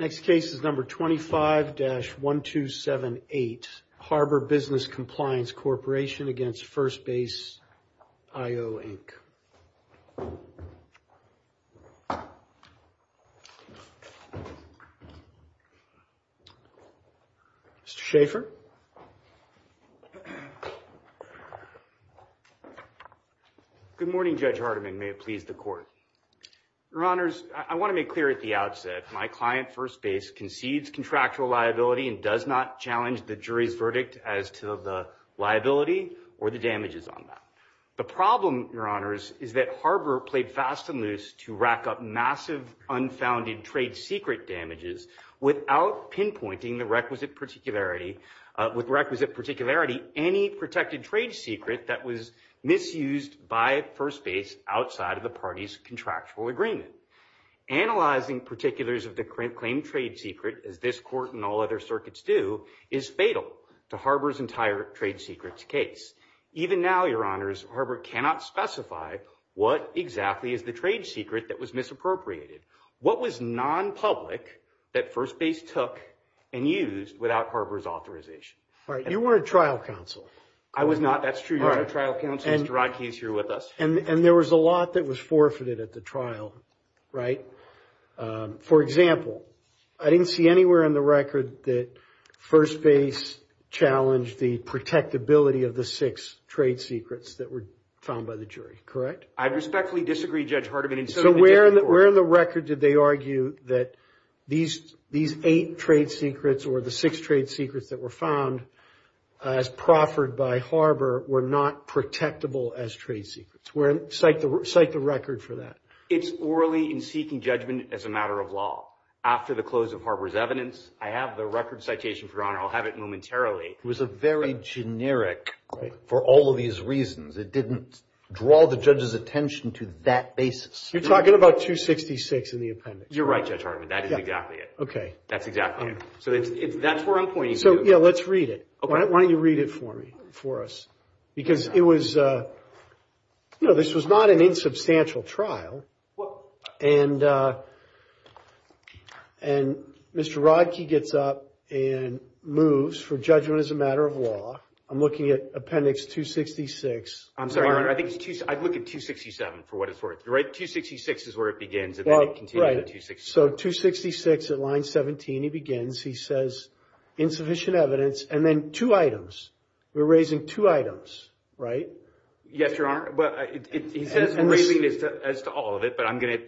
Next case is number 25-1278, Harbor Business Compliance Corporation v. Firstbase.IO Inc. Mr. Schaffer. Good morning, Judge Hardiman. May it please the Court. Your Honors, I want to make clear at the outset, my client, Firstbase, concedes contractual liability and does not challenge the jury's verdict as to the liability or the damages on that. The problem, Your Honors, is that Harbor played fast and loose to rack up massive, unfounded trade secret damages without pinpointing with requisite particularity any protected trade secret that was misused by Firstbase outside of the party's contractual agreement. Analyzing particulars of the claimed trade secret, as this Court and all other circuits do, is fatal to Harbor's entire trade secrets case. Even now, Your Honors, Harbor cannot specify what exactly is the trade secret that was misappropriated. What was non-public that Firstbase took and used without Harbor's authorization? All right. You were a trial counsel. I was not. That's true. You were a trial counsel. Mr. Rodkey is here with us. And there was a lot that was forfeited at the trial, right? For example, I didn't see anywhere in the record that Firstbase challenged the protectability of the six trade secrets that were found by the jury, correct? I respectfully disagree, Judge Hardiman. So where in the record did they argue that these eight trade secrets or the six trade secrets that were found as proffered by Harbor were not protectable as trade secrets? Cite the record for that. It's orally in seeking judgment as a matter of law. After the close of Harbor's evidence, I have the record citation, Your Honor. I'll have it momentarily. It was very generic for all of these reasons. It didn't draw the judge's attention to that basis. You're talking about 266 in the appendix. You're right, Judge Hardiman. That is exactly it. Okay. That's exactly it. So that's where I'm pointing to. So, yeah, let's read it. Okay. Why don't you read it for me, for us? Because it was, you know, this was not an insubstantial trial. And Mr. Rodkey gets up and moves for judgment as a matter of law. I'm looking at appendix 266. I'm sorry, Your Honor. I'd look at 267 for what it's worth. You're right. 266 is where it begins. Well, right. So 266 at line 17, he begins. He says insufficient evidence and then two items. We're raising two items, right? Yes, Your Honor. He says we're raising it as to all of it.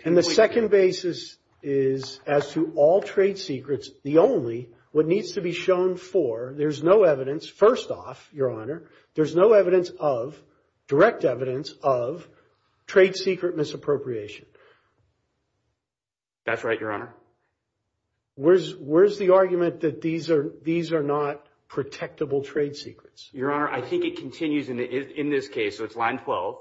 And the second basis is as to all trade secrets. The only, what needs to be shown for, there's no evidence, first off, Your Honor, there's no evidence of, direct evidence of, trade secret misappropriation. That's right, Your Honor. Where's the argument that these are not protectable trade secrets? Your Honor, I think it continues in this case. So it's line 12.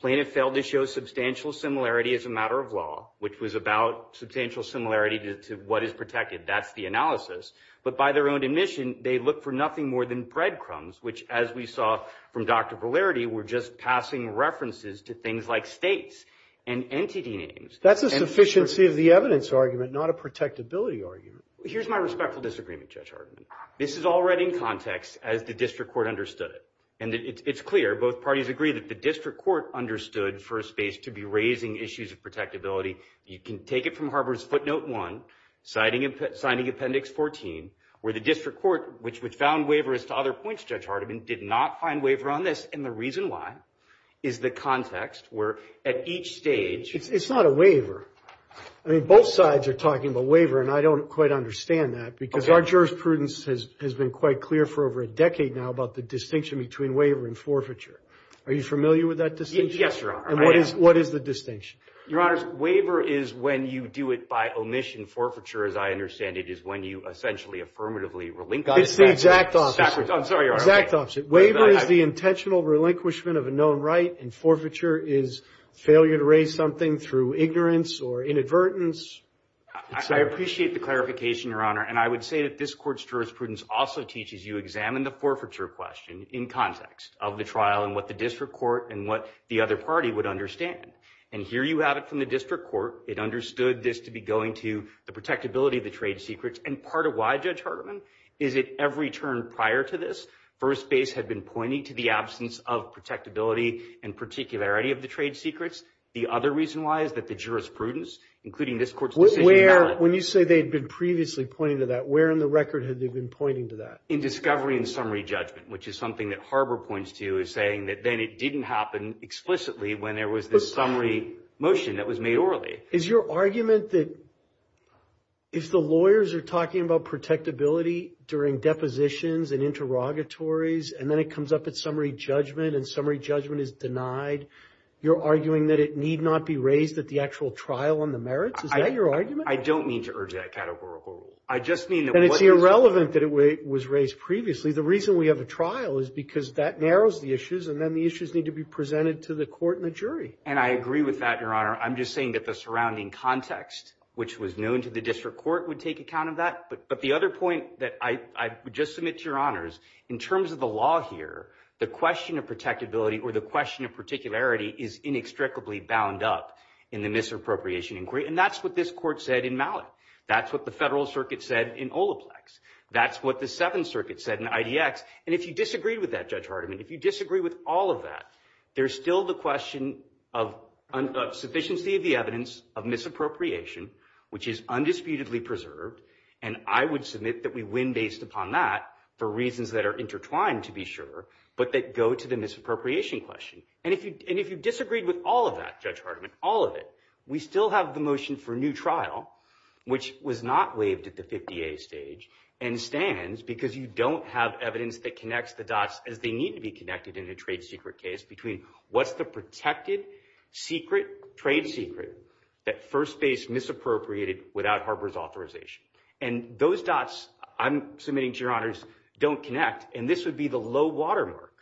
Plaintiff failed to show substantial similarity as a matter of law, which was about substantial similarity to what is protected. That's the analysis. But by their own admission, they look for nothing more than breadcrumbs, which, as we saw from Dr. Polarity, were just passing references to things like states and entity names. That's a sufficiency of the evidence argument, not a protectability argument. Here's my respectful disagreement, Judge Hardiman. This is already in context as the district court understood it. And it's clear, both parties agree, that the district court understood for a space to be raising issues of protectability. You can take it from Harvard's footnote 1, Signing Appendix 14, where the district court, which found waiver as to other points, Judge Hardiman, did not find waiver on this. And the reason why is the context where at each stage. It's not a waiver. I mean, both sides are talking about waiver, and I don't quite understand that, because our jurisprudence has been quite clear for over a decade now about the distinction between waiver and forfeiture. Are you familiar with that distinction? Yes, Your Honor. And what is the distinction? Your Honors, waiver is when you do it by omission. Forfeiture, as I understand it, is when you essentially affirmatively relinquish. It's the exact opposite. I'm sorry, Your Honor. Exact opposite. Waiver is the intentional relinquishment of a known right, and forfeiture is failure to raise something through ignorance or inadvertence. I appreciate the clarification, Your Honor. And I would say that this Court's jurisprudence also teaches you, examine the forfeiture question in context of the trial and what the district court and what the other party would understand. And here you have it from the district court. It understood this to be going to the protectability of the trade secrets. And part of why, Judge Hardiman, is that every term prior to this, First Base had been pointing to the absence of protectability and particularity of the trade secrets. The other reason why is that the jurisprudence, including this Court's decision, When you say they had been previously pointing to that, where in the record had they been pointing to that? In discovery and summary judgment, which is something that Harbor points to as saying that then it didn't happen explicitly when there was this summary motion that was made orally. Is your argument that if the lawyers are talking about protectability during depositions and interrogatories, and then it comes up at summary judgment and summary judgment is denied, you're arguing that it need not be raised at the actual trial on the merits? Is that your argument? I don't mean to urge that categorical rule. I just mean that what is the... Then it's irrelevant that it was raised previously. The reason we have a trial is because that narrows the issues, and then the issues need to be presented to the Court and the jury. And I agree with that, Your Honor. I'm just saying that the surrounding context, which was known to the district court, would take account of that. But the other point that I would just submit to Your Honors, in terms of the law here, the question of protectability, or the question of particularity, is inextricably bound up in the misappropriation inquiry. And that's what this Court said in Mallet. That's what the Federal Circuit said in Olaplex. That's what the Seventh Circuit said in IDX. And if you disagree with that, Judge Hardiman, if you disagree with all of that, there's still the question of sufficiency of the evidence of misappropriation, which is undisputedly preserved, and I would submit that we win based upon that for reasons that are intertwined, to be sure, but that go to the misappropriation question. And if you disagreed with all of that, Judge Hardiman, all of it, we still have the motion for a new trial, which was not waived at the 50A stage, and stands because you don't have evidence that connects the dots as they need to be connected in a trade secret case between what's the protected trade secret that First Base misappropriated without Harbor's authorization. And those dots, I'm submitting to Your Honors, don't connect, and this would be the low watermark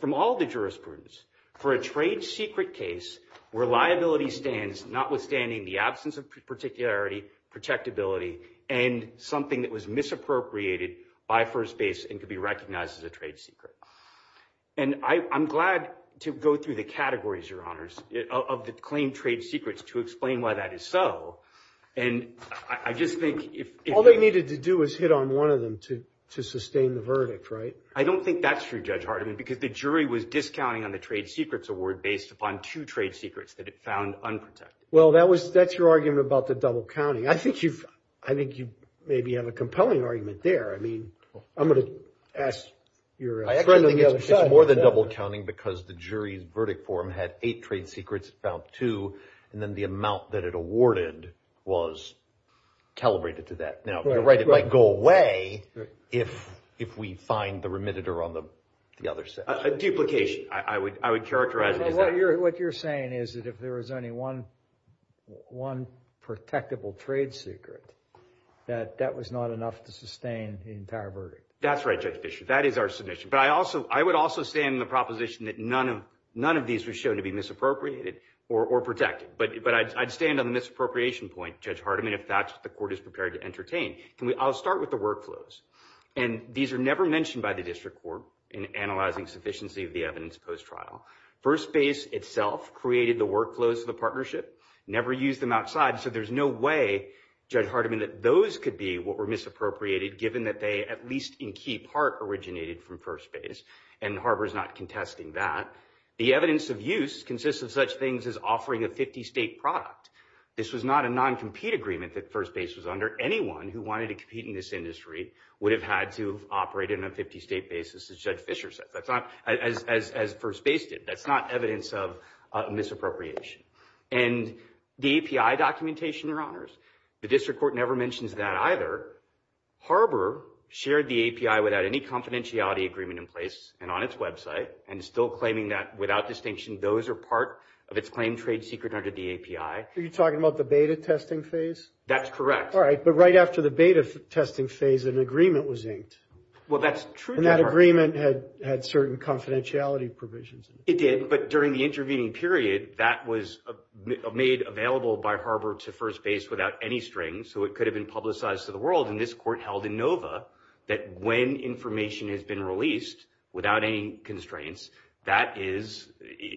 from all the jurisprudence for a trade secret case where liability stands, notwithstanding the absence of particularity, protectability, and something that was misappropriated by First Base and could be recognized as a trade secret. And I'm glad to go through the categories, Your Honors, of the claimed trade secrets to explain why that is so. And I just think if... All they needed to do was hit on one of them to sustain the verdict, right? I don't think that's true, Judge Hardiman, because the jury was discounting on the trade secrets award based upon two trade secrets that it found unprotected. Well, that's your argument about the double counting. I think you maybe have a compelling argument there. I mean, I'm going to ask your friend on the other side. I actually think it's more than double counting because the jury's verdict form had eight trade secrets. It found two, and then the amount that it awarded was calibrated to that. Now, you're right. It might go away if we find the remitter on the other side. A duplication, I would characterize it as that. What you're saying is that if there was only one protectable trade secret, that that was not enough to sustain the entire verdict. That's right, Judge Fischer. That is our submission. But I would also stand in the proposition that none of these were shown to be misappropriated or protected. But I'd stand on the misappropriation point, Judge Hardiman, if that's what the court is prepared to entertain. I'll start with the workflows. And these are never mentioned by the district court in analyzing sufficiency of the evidence post-trial. First Base itself created the workflows of the partnership, never used them outside, so there's no way, Judge Hardiman, that those could be what were misappropriated given that they, at least in key part, originated from First Base. And Harbor's not contesting that. The evidence of use consists of such things as offering a 50-state product. This was not a non-compete agreement that First Base was under. Anyone who wanted to compete in this industry would have had to operate in a 50-state basis, as Judge Fischer said, as First Base did. That's not evidence of misappropriation. And the API documentation, Your Honors, the district court never mentions that either. Harbor shared the API without any confidentiality agreement in place and on its website, and is still claiming that, without distinction, those are part of its claimed trade secret under the API. Are you talking about the beta testing phase? That's correct. All right, but right after the beta testing phase, an agreement was inked. Well, that's true, Your Honor. And that agreement had certain confidentiality provisions. It did, but during the intervening period, that was made available by Harbor to First Base without any strings, so it could have been publicized to the world, and this court held in Nova that when information has been released without any constraints, that is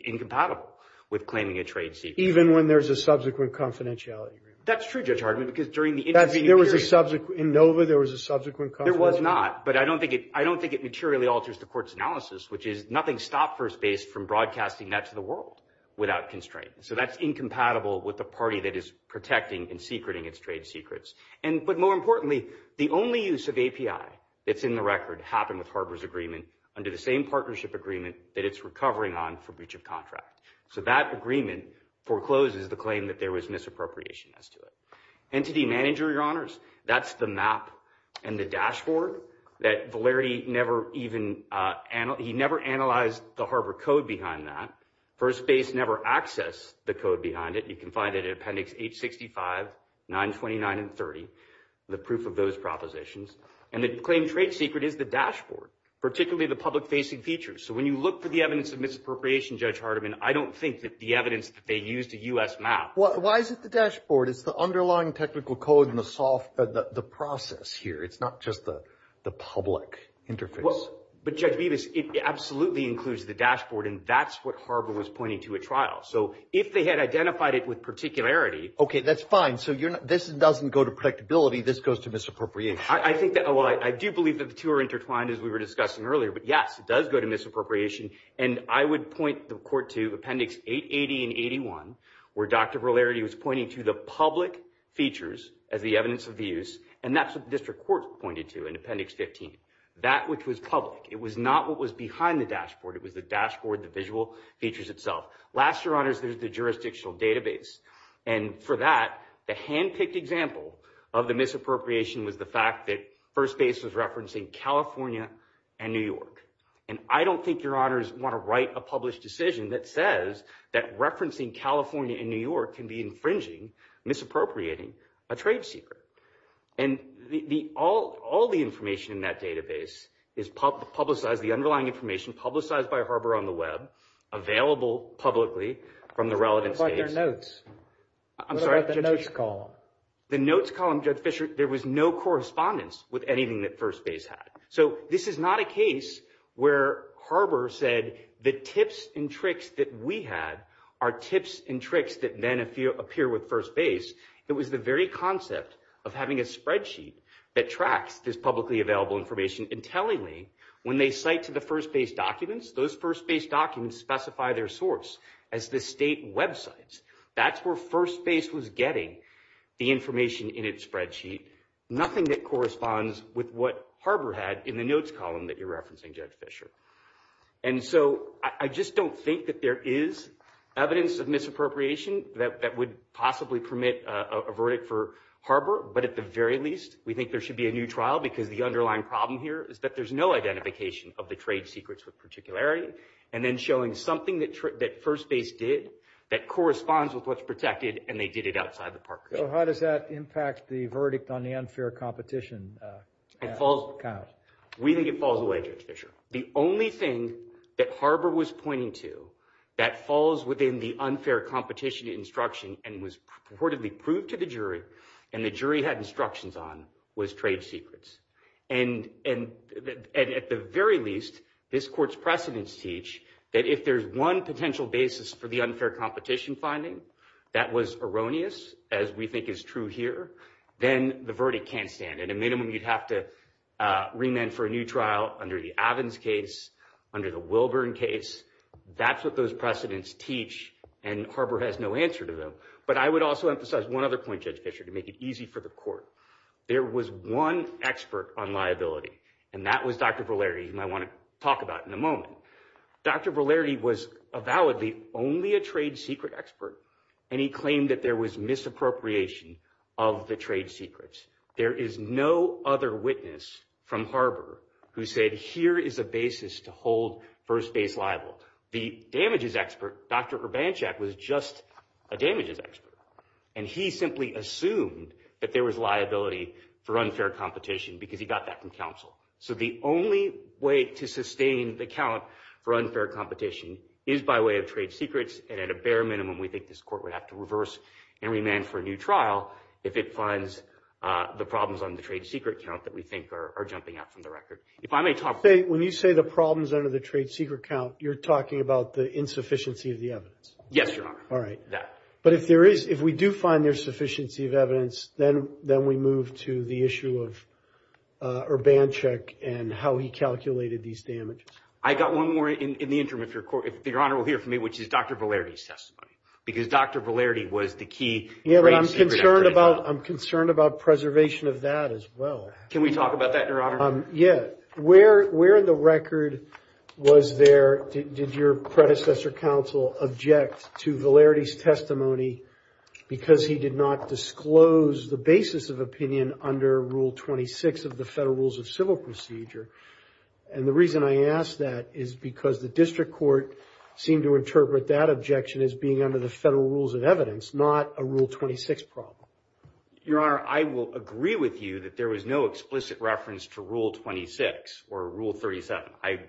incompatible with claiming a trade secret. Even when there's a subsequent confidentiality agreement? That's true, Judge Hardiman, because during the intervening period... In Nova, there was a subsequent confidentiality agreement? There was not, but I don't think it materially alters the court's analysis, which is nothing stopped First Base from broadcasting that to the world without constraints. So that's incompatible with the party that is protecting and secreting its trade secrets. But more importantly, the only use of API that's in the record happened with Harbor's agreement under the same partnership agreement that it's recovering on for breach of contract. So that agreement forecloses the claim that there was misappropriation as to it. Entity manager, Your Honors, that's the map and the dashboard that Valerity never even... He never analyzed the Harbor code behind that. First Base never accessed the code behind it. You can find it in Appendix 865, 929, and 30, the proof of those propositions. And the claimed trade secret is the dashboard, particularly the public-facing features. So when you look for the evidence of misappropriation, Judge Hardiman, I don't think that the evidence that they used a U.S. map... Why is it the dashboard? It's the underlying technical code and the process here. It's not just the public interface. But, Judge Bevis, it absolutely includes the dashboard, and that's what Harbor was pointing to at trial. So if they had identified it with particularity... Okay, that's fine. So this doesn't go to predictability. This goes to misappropriation. I do believe that the two are intertwined, as we were discussing earlier. But, yes, it does go to misappropriation. And I would point the court to Appendix 880 and 81, where Dr. Valerity was pointing to the public features as the evidence of the use, and that's what the district court pointed to in Appendix 15, that which was public. It was not what was behind the dashboard. It was the dashboard, the visual features itself. Last, Your Honors, there's the jurisdictional database. And for that, the hand-picked example of the misappropriation was the fact that First Base was referencing California and New York. And I don't think, Your Honors, you want to write a published decision that says that referencing California and New York can be infringing, misappropriating a trade secret. And all the information in that database is publicized, the underlying information publicized by Harbor on the web, available publicly from the relevant states. What about their notes? I'm sorry? What about the notes column? The notes column, Judge Fischer, there was no correspondence with anything that First Base had. So this is not a case where Harbor said the tips and tricks that we had are tips and tricks that then appear with First Base. It was the very concept of having a spreadsheet that tracks this publicly available information intelligently when they cite to the First Base documents. Those First Base documents specify their source as the state websites. That's where First Base was getting the information in its spreadsheet. Nothing that corresponds with what Harbor had in the notes column that you're referencing, Judge Fischer. And so I just don't think that there is evidence of misappropriation that would possibly permit a verdict for Harbor. But at the very least, we think there should be a new trial because the underlying problem here is that there's no identification of the trade secrets with particularity, and then showing something that First Base did that corresponds with what's protected, and they did it outside the park. So how does that impact the verdict on the unfair competition? It falls... We think it falls away, Judge Fischer. The only thing that Harbor was pointing to that falls within the unfair competition instruction and was purportedly proved to the jury and the jury had instructions on was trade secrets. And at the very least, this court's precedents teach that if there's one potential basis for the unfair competition finding that was erroneous, as we think is true here, then the verdict can't stand. At a minimum, you'd have to remand for a new trial under the Avins case, under the Wilburn case. That's what those precedents teach, and Harbor has no answer to them. But I would also emphasize one other point, Judge Fischer, to make it easy for the court. There was one expert on liability, and that was Dr. Volarity, whom I want to talk about in a moment. Dr. Volarity was avowedly only a trade secret expert, and he claimed that there was misappropriation of the trade secrets. There is no other witness from Harbor who said here is a basis to hold first base liable. The damages expert, Dr. Urbanchak, was just a damages expert, and he simply assumed that there was liability for unfair competition because he got that from counsel. So the only way to sustain the count for unfair competition is by way of trade secrets, and at a bare minimum, we think this court would have to reverse and remand for a new trial if it finds the problems on the trade secret count that we think are jumping out from the record. If I may talk... When you say the problems under the trade secret count, you're talking about the insufficiency of the evidence. Yes, Your Honor. All right. But if we do find there's sufficiency of evidence, then we move to the issue of Urbanchak and how he calculated these damages. I got one more in the interim, if Your Honor will hear from me, which is Dr. Volarity's testimony, because Dr. Volarity was the key trade secret expert. Yeah, but I'm concerned about preservation of that as well. Can we talk about that, Your Honor? Yeah. Where in the record was there... Did your predecessor counsel object to Volarity's testimony because he did not disclose the basis of opinion under Rule 26 of the Federal Rules of Civil Procedure? And the reason I ask that is because the district court seemed to interpret that objection as being under the Federal Rules of Evidence, not a Rule 26 problem. Your Honor, I will agree with you that there was no explicit reference to Rule 26 or Rule 37. I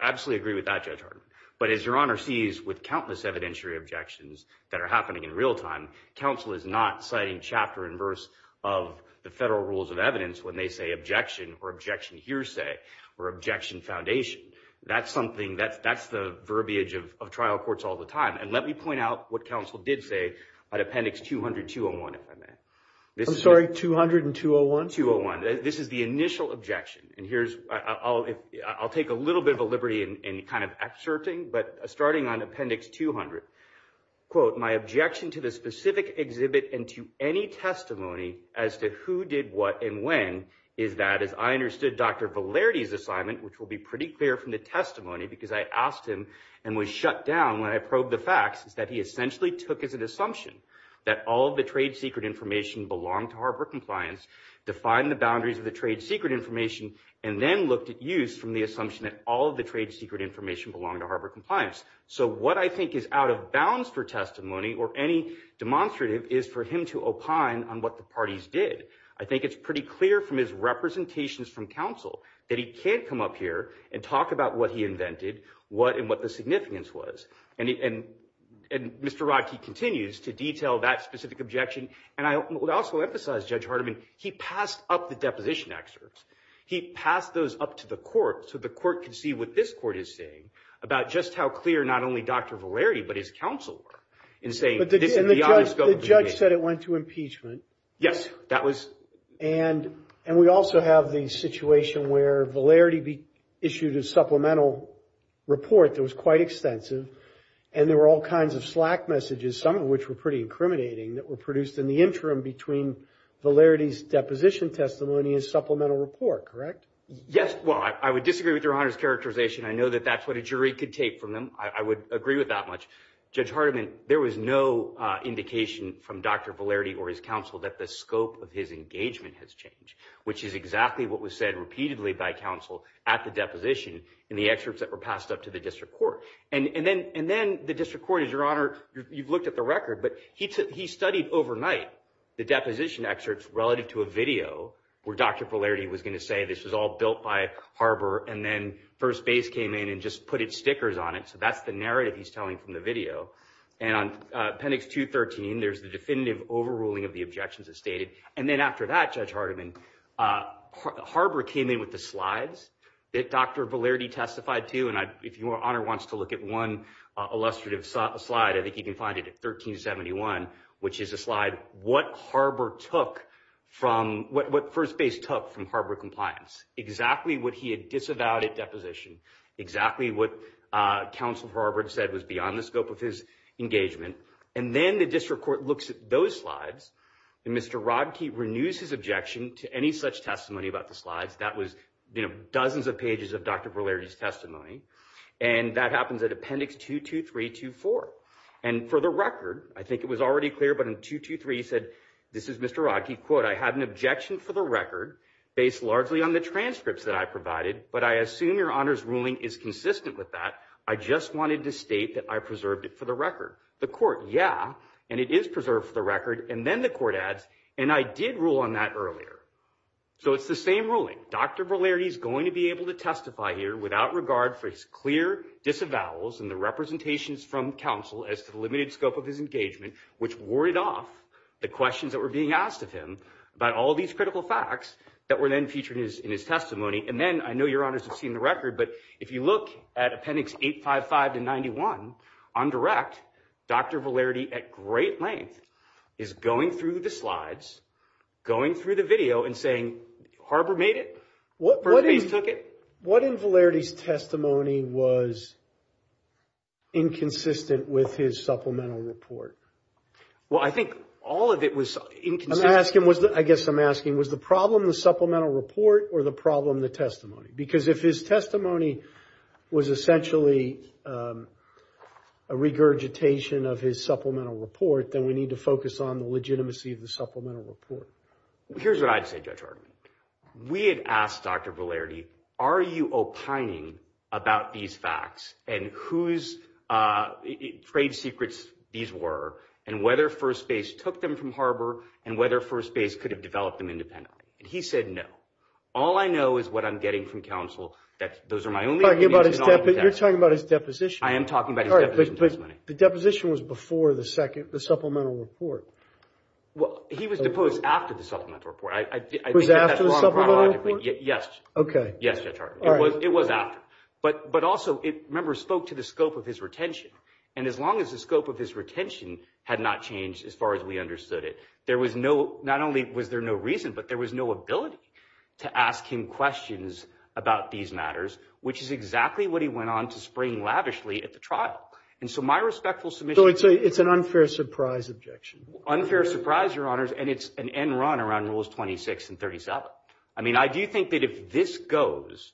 absolutely agree with that, Judge Hartman. But as Your Honor sees with countless evidentiary objections that are happening in real time, counsel is not citing chapter and verse of the Federal Rules of Evidence when they say objection or objection hearsay or objection foundation. That's the verbiage of trial courts all the time. And let me point out what counsel did say at Appendix 200-201, if I may. I'm sorry, 200 and 201? 201. This is the initial objection. I'll take a little bit of liberty in kind of exerting, but starting on Appendix 200, quote, my objection to the specific exhibit and to any testimony as to who did what and when is that, as I understood Dr. Valerde's assignment, which will be pretty clear from the testimony because I asked him and was shut down when I probed the facts, is that he essentially took as an assumption that all of the trade secret information belonged to Harbor Compliance, defined the boundaries of the trade secret information and then looked at use from the assumption that all of the trade secret information belonged to Harbor Compliance. So what I think is out of bounds for testimony or any demonstrative is for him to opine on what the parties did. I think it's pretty clear from his representations from counsel that he can't come up here and talk about what he invented, what and what the significance was. And Mr. Rodkey continues to detail that specific objection. And I would also emphasize Judge Hardiman, he passed up the deposition excerpts. He passed those up to the court so the court could see what this court is saying about just how clear not only Dr. Valerde but his counsel were in saying this is beyond the scope of the case. But the judge said it went to impeachment. Yes, that was. And we also have the situation where Valerde issued a supplemental report that was quite extensive and there were all kinds of slack messages, some of which were pretty incriminating, that were produced in the interim between Valerde's deposition testimony and supplemental report, correct? Yes, well, I would disagree with Your Honor's characterization. I know that that's what a jury could take from him. I would agree with that much. Judge Hardiman, there was no indication from Dr. Valerde or his counsel that the scope of his engagement has changed, which is exactly what was said repeatedly by counsel at the deposition in the excerpts that were passed up to the district court. And then the district court, Your Honor, you've looked at the record, but he studied overnight the deposition excerpts relative to a video where Dr. Valerde was going to say this was all built by Harber and then first base came in and just put its stickers on it. So that's the narrative he's telling from the video. And on appendix 213, there's the definitive overruling of the objections as stated. And then after that, Judge Hardiman, Harber came in with the slides that Dr. Valerde testified to. And if Your Honor wants to look at one illustrative slide, I think you can find it at 1371, which is a slide, what Harber took from, what first base took from Harber compliance. Exactly what he had disavowed at deposition. Exactly what counsel Harber said was beyond the scope of his engagement. And then the district court looks at those slides, and Mr. Rodkey renews his objection to any such testimony about the slides. That was dozens of pages of Dr. Valerde's testimony. And that happens at appendix 22324. And for the record, I think it was already clear, but in 223, he said, this is Mr. Rodkey, quote, I have an objection for the record, based largely on the transcripts that I provided, but I assume Your Honor's ruling is consistent with that. I just wanted to state that I preserved it for the record. The court, yeah, and it is preserved for the record. And then the court adds, and I did rule on that earlier. So it's the same ruling. Dr. Valerde is going to be able to testify here without regard for his clear disavowals and the representations from counsel as to the limited scope of his engagement, which warded off the questions that were being asked of him about all these critical facts that were then featured in his testimony. And then, I know Your Honors have seen the record, but if you look at appendix 855-91, on direct, Dr. Valerde at great length is going through the slides, going through the video, and saying, Harbor made it, Burbanks took it. What in Valerde's testimony was inconsistent with his supplemental report? Well, I think all of it was inconsistent. I guess I'm asking, was the problem the supplemental report or the problem the testimony? Because if his testimony was essentially a regurgitation of his supplemental report, then we need to focus on the legitimacy of the supplemental report. Here's what I'd say, Judge Hartman. We had asked Dr. Valerde, are you opining about these facts and whose trade secrets these were and whether First Base took them from Harbor and whether First Base could have developed them independently? And he said, no. All I know is what I'm getting from counsel. Those are my only opinions. But you're talking about his deposition. I am talking about his deposition testimony. But the deposition was before the supplemental report. Well, he was deposed after the supplemental report. I think that's wrong chronologically. Yes. Okay. Yes, Judge Hartman. It was after. But also, remember, it spoke to the scope of his retention. And as long as the scope of his retention had not changed as far as we understood it, there was no—not only was there no reason, but there was no ability to ask him questions about these matters, which is exactly what he went on to spring lavishly at the trial. And so my respectful submission— So it's an unfair surprise objection. It's an unfair surprise, Your Honors, and it's an end run around Rules 26 and 37. I mean, I do think that if this goes,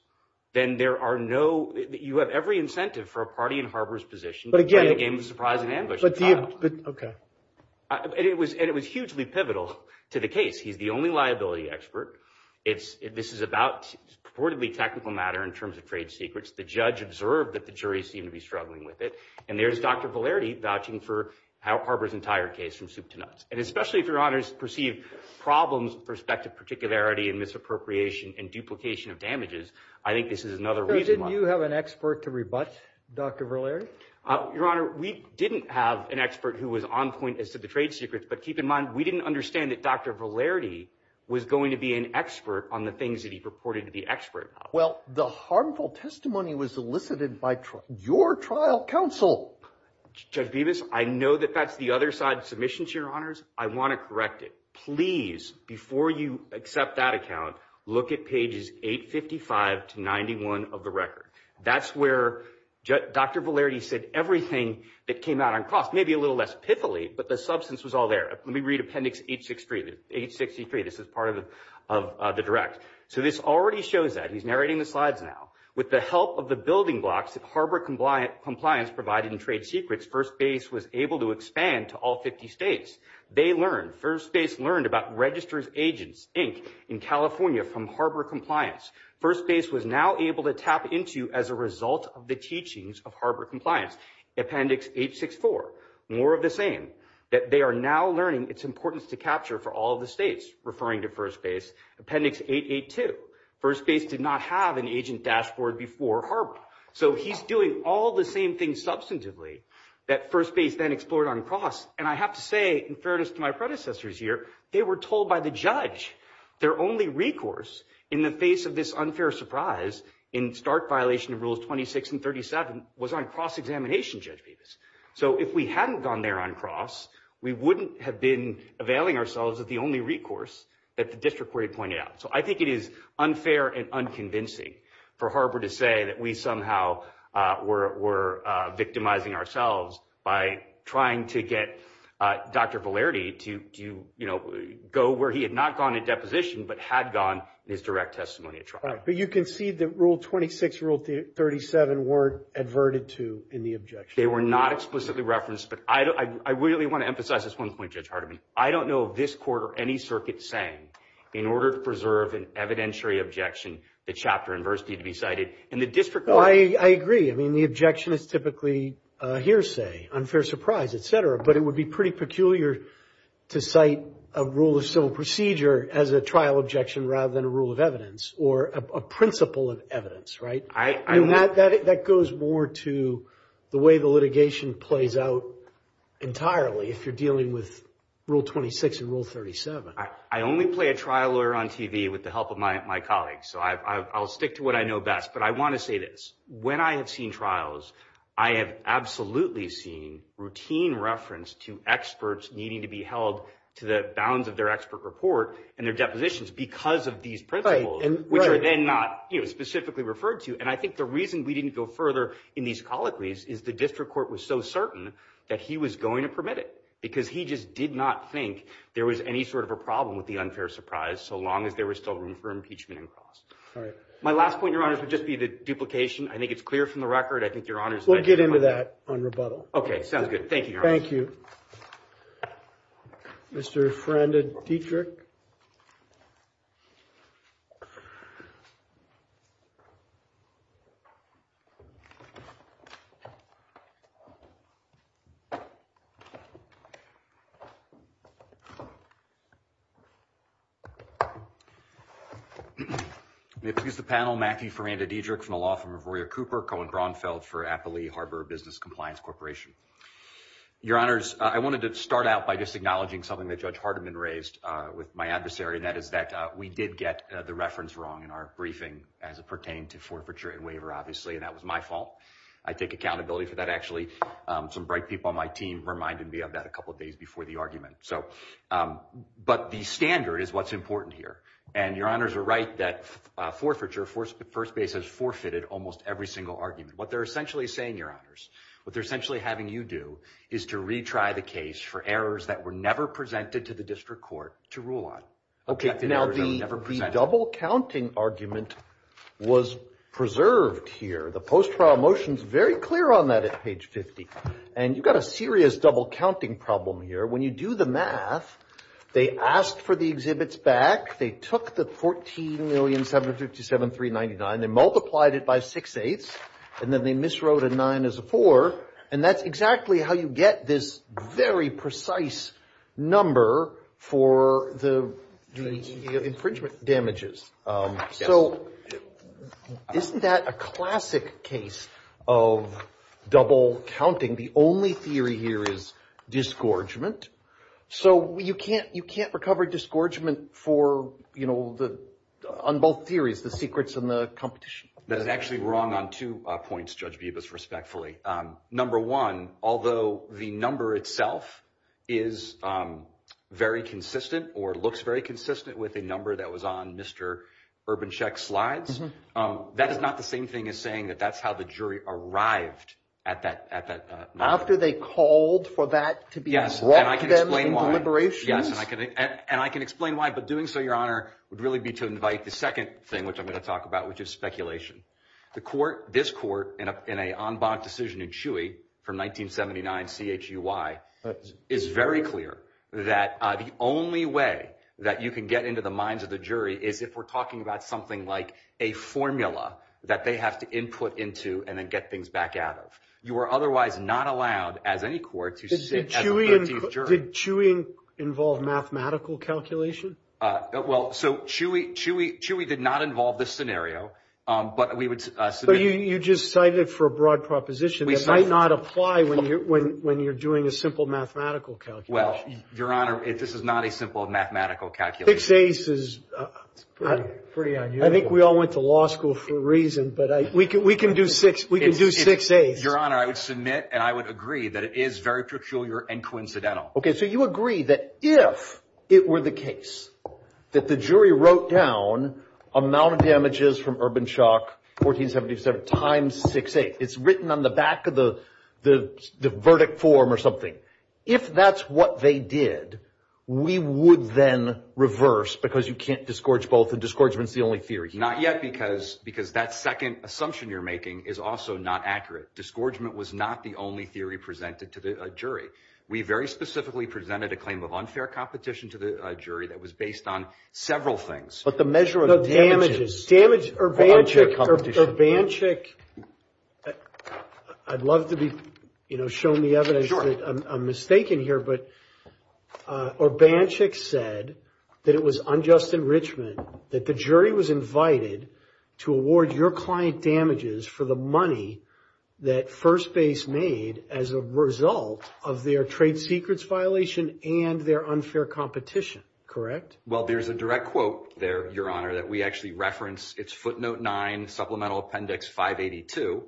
then there are no— you have every incentive for a party in Harber's position to play the game of surprise and ambush. Okay. And it was hugely pivotal to the case. He's the only liability expert. This is a purportedly technical matter in terms of trade secrets. The judge observed that the jury seemed to be struggling with it. And there's Dr. Valerde vouching for Harber's entire case from soup to nuts. And especially if Your Honors perceive problems with perspective particularity and misappropriation and duplication of damages, I think this is another reason why— So didn't you have an expert to rebut Dr. Valerde? Your Honor, we didn't have an expert who was on point as to the trade secrets. But keep in mind, we didn't understand that Dr. Valerde was going to be an expert on the things that he purported to be expert about. Well, the harmful testimony was elicited by your trial counsel. Judge Bevis, I know that that's the other side of submissions, Your Honors. I want to correct it. Please, before you accept that account, look at pages 855 to 91 of the record. That's where Dr. Valerde said everything that came out on cost, maybe a little less pithily, but the substance was all there. Let me read Appendix 863. This is part of the direct. So this already shows that. He's narrating the slides now. With the help of the building blocks that Harbor Compliance provided in trade secrets, First Base was able to expand to all 50 states. They learned. First Base learned about Registers Agents, Inc., in California from Harbor Compliance. First Base was now able to tap into as a result of the teachings of Harbor Compliance. Appendix 864, more of the same, that they are now learning its importance to capture for all of the states, referring to First Base. Appendix 882, First Base did not have an agent dashboard before Harbor. So he's doing all the same things substantively that First Base then explored on Cross, and I have to say, in fairness to my predecessors here, they were told by the judge their only recourse in the face of this unfair surprise in Stark violation of Rules 26 and 37 was on cross-examination, Judge Bevis. So if we hadn't gone there on Cross, we wouldn't have been availing ourselves of the only recourse that the district court had pointed out. So I think it is unfair and unconvincing for Harbor to say that we somehow were victimizing ourselves by trying to get Dr. Valerde to, you know, go where he had not gone in deposition but had gone in his direct testimony at trial. But you concede that Rule 26, Rule 37 weren't adverted to in the objection. They were not explicitly referenced, but I really want to emphasize this one point, Judge Hardiman. I don't know of this court or any circuit saying in order to preserve an evidentiary objection, the chapter and verse need to be cited, and the district court. Well, I agree. I mean, the objection is typically a hearsay, unfair surprise, et cetera, but it would be pretty peculiar to cite a rule of civil procedure as a trial objection rather than a rule of evidence or a principle of evidence, right? That goes more to the way the litigation plays out entirely if you're dealing with Rule 26 and Rule 37. I only play a trial lawyer on TV with the help of my colleagues, so I'll stick to what I know best. But I want to say this. When I have seen trials, I have absolutely seen routine reference to experts needing to be held to the bounds of their expert report and their depositions because of these principles, which are then not specifically referred to. And I think the reason we didn't go further in these colloquies is the district court was so certain that he was going to permit it because he just did not think there was any sort of a problem with the unfair surprise so long as there was still room for impeachment and cross. All right. My last point, Your Honors, would just be the duplication. I think it's clear from the record. I think Your Honors – We'll get into that on rebuttal. Okay. Sounds good. Thank you, Your Honors. Thank you. Mr. Feranda-Dedrick. May I introduce the panel, Matthew Feranda-Dedrick from the law firm of Royer Cooper, Cohen-Gronfeld for Appley Harbor Business Compliance Corporation. Your Honors, I wanted to start out by just acknowledging something that Judge Hardiman raised with my adversary, and that is that we did get the reference wrong in our briefing as it pertained to forfeiture and waiver, obviously, and that was my fault. I take accountability for that. Actually, some bright people on my team reminded me of that a couple of days before the argument. But the standard is what's important here, and Your Honors are right that forfeiture, first base has forfeited almost every single argument. What they're essentially saying, Your Honors, what they're essentially having you do is to retry the case for errors that were never presented to the district court to rule on. Okay. Now, the double-counting argument was preserved here. The post-trial motion is very clear on that at page 50, and you've got a serious double-counting problem here. When you do the math, they asked for the exhibits back. They took the $14,757,399. They multiplied it by six-eighths, and then they miswrote a nine as a four, and that's exactly how you get this very precise number for the infringement damages. So isn't that a classic case of double-counting? The only theory here is disgorgement. So you can't recover disgorgement on both theories, the secrets and the competition. That is actually wrong on two points, Judge Bibas, respectfully. Number one, although the number itself is very consistent or looks very consistent with a number that was on Mr. Urbancheck's slides, that is not the same thing as saying that that's how the jury arrived at that number. After they called for that to be brought to them in deliberations? Yes, and I can explain why, but doing so, Your Honor, would really be to invite the second thing, which I'm going to talk about, which is speculation. This court, in an en banc decision in Chewy from 1979, C-H-U-Y, is very clear that the only way that you can get into the minds of the jury is if we're talking about something like a formula that they have to input into and then get things back out of. You are otherwise not allowed, as any court, to sit as the 13th jury. Did Chewy involve mathematical calculation? Well, so Chewy did not involve this scenario. But you just cited it for a broad proposition. It might not apply when you're doing a simple mathematical calculation. Well, Your Honor, this is not a simple mathematical calculation. Six eighths is pretty unusual. I think we all went to law school for a reason, but we can do six eighths. Your Honor, I would submit and I would agree that it is very peculiar and coincidental. Okay, so you agree that if it were the case that the jury wrote down amount of damages from urban shock, 1477, times six eighths. It's written on the back of the verdict form or something. If that's what they did, we would then reverse because you can't disgorge both, and disgorgement's the only theory. Not yet, because that second assumption you're making is also not accurate. Disgorgement was not the only theory presented to the jury. We very specifically presented a claim of unfair competition to the jury that was based on several things. But the measure of damages. Or unfair competition. Urbanchik, I'd love to be, you know, shown the evidence that I'm mistaken here, but Urbanchik said that it was unjust enrichment, that the jury was invited to award your client damages for the money that First Base made as a result of their trade secrets violation and their unfair competition, correct? Well, there's a direct quote there, Your Honor, that we actually reference. It's footnote nine, supplemental appendix 582.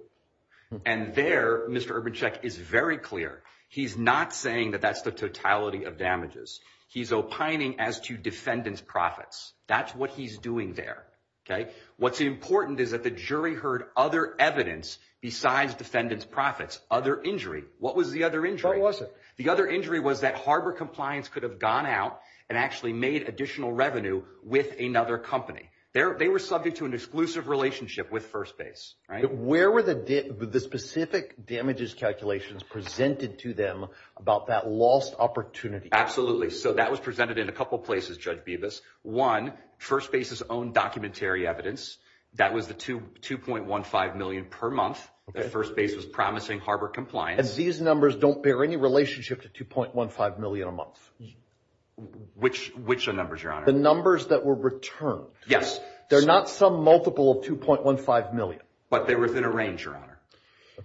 And there, Mr. Urbanchik is very clear. He's not saying that that's the totality of damages. He's opining as to defendant's profits. That's what he's doing there, okay? What's important is that the jury heard other evidence besides defendant's profits. Other injury. What was the other injury? What was it? The other injury was that Harbor Compliance could have gone out and actually made additional revenue with another company. They were subject to an exclusive relationship with First Base, right? Where were the specific damages calculations presented to them about that lost opportunity? Absolutely. So that was presented in a couple places, Judge Bibas. One, First Base's own documentary evidence. That was the $2.15 million per month that First Base was promising Harbor Compliance. And these numbers don't bear any relationship to $2.15 million a month? Which numbers, Your Honor? The numbers that were returned. Yes. They're not some multiple of $2.15 million. But they were within a range, Your Honor.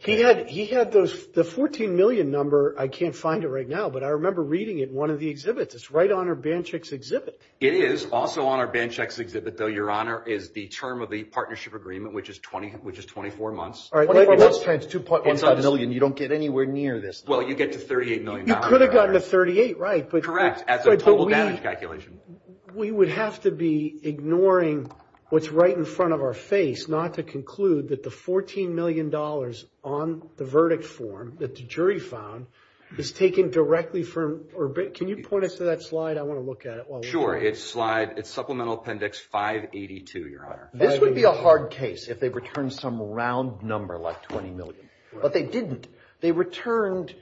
He had the $14 million number. I can't find it right now, but I remember reading it in one of the exhibits. It's right on our ban checks exhibit. It is also on our ban checks exhibit, though, Your Honor, is the term of the partnership agreement, which is 24 months. All right. $2.15 million. You don't get anywhere near this. Well, you get to $38 million. You could have gotten to 38, right? Correct, as a total damage calculation. We would have to be ignoring what's right in front of our face not to conclude that the $14 million on the verdict form that the jury found is taken directly from or Can you point us to that slide? I want to look at it. Sure. It's Supplemental Appendix 582, Your Honor. This would be a hard case if they returned some round number like $20 million. But they didn't. They returned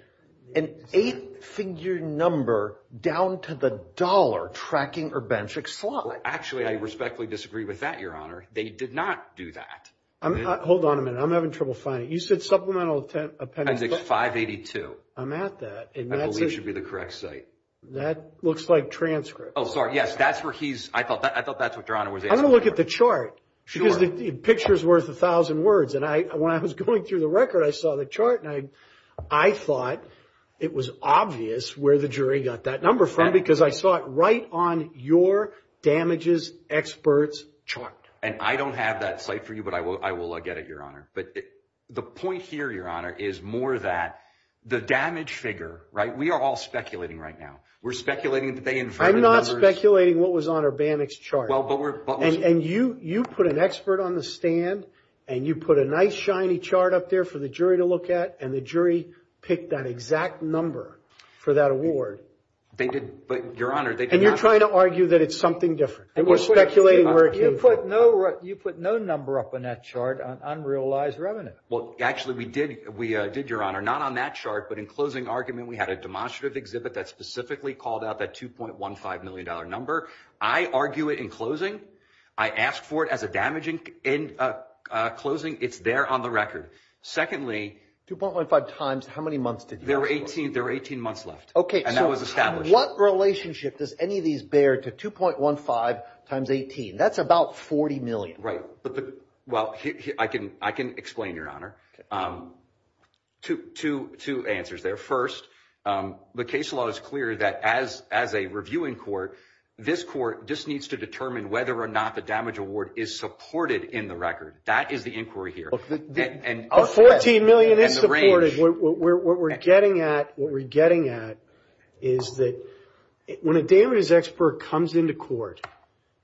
an eight-figure number down to the dollar tracking or ban check slide. Actually, I respectfully disagree with that, Your Honor. They did not do that. Hold on a minute. I'm having trouble finding it. You said Supplemental Appendix 582. I'm at that. I believe it should be the correct site. That looks like transcript. Oh, sorry. Yes, that's where he's – I thought that's what you're on. I'm going to look at the chart because the picture is worth a thousand words. And when I was going through the record, I saw the chart, and I thought it was obvious where the jury got that number from because I saw it right on your damages experts chart. And I don't have that site for you, but I will get it, Your Honor. But the point here, Your Honor, is more that the damage figure, right, we are all speculating right now. We're speculating that they inferred the numbers. I'm not speculating what was on Urbanak's chart. Well, but we're – And you put an expert on the stand, and you put a nice, shiny chart up there for the jury to look at, and the jury picked that exact number for that award. They did. But, Your Honor, they did not – And you're trying to argue that it's something different. We're speculating where it came from. You put no number up on that chart on unrealized revenue. Well, actually, we did, Your Honor, not on that chart, but in closing argument, we had a demonstrative exhibit that specifically called out that $2.15 million number. I argue it in closing. I ask for it as a damaging – in closing, it's there on the record. Secondly – 2.15 times how many months did you ask for? There were 18 months left, and that was established. Okay, so what relationship does any of these bear to 2.15 times 18? That's about $40 million. Right. Well, I can explain, Your Honor. Okay. Two answers there. First, the case law is clear that as a reviewing court, this court just needs to determine whether or not the damage award is supported in the record. That is the inquiry here. But $14 million is supported. And the range. What we're getting at is that when a damage expert comes into court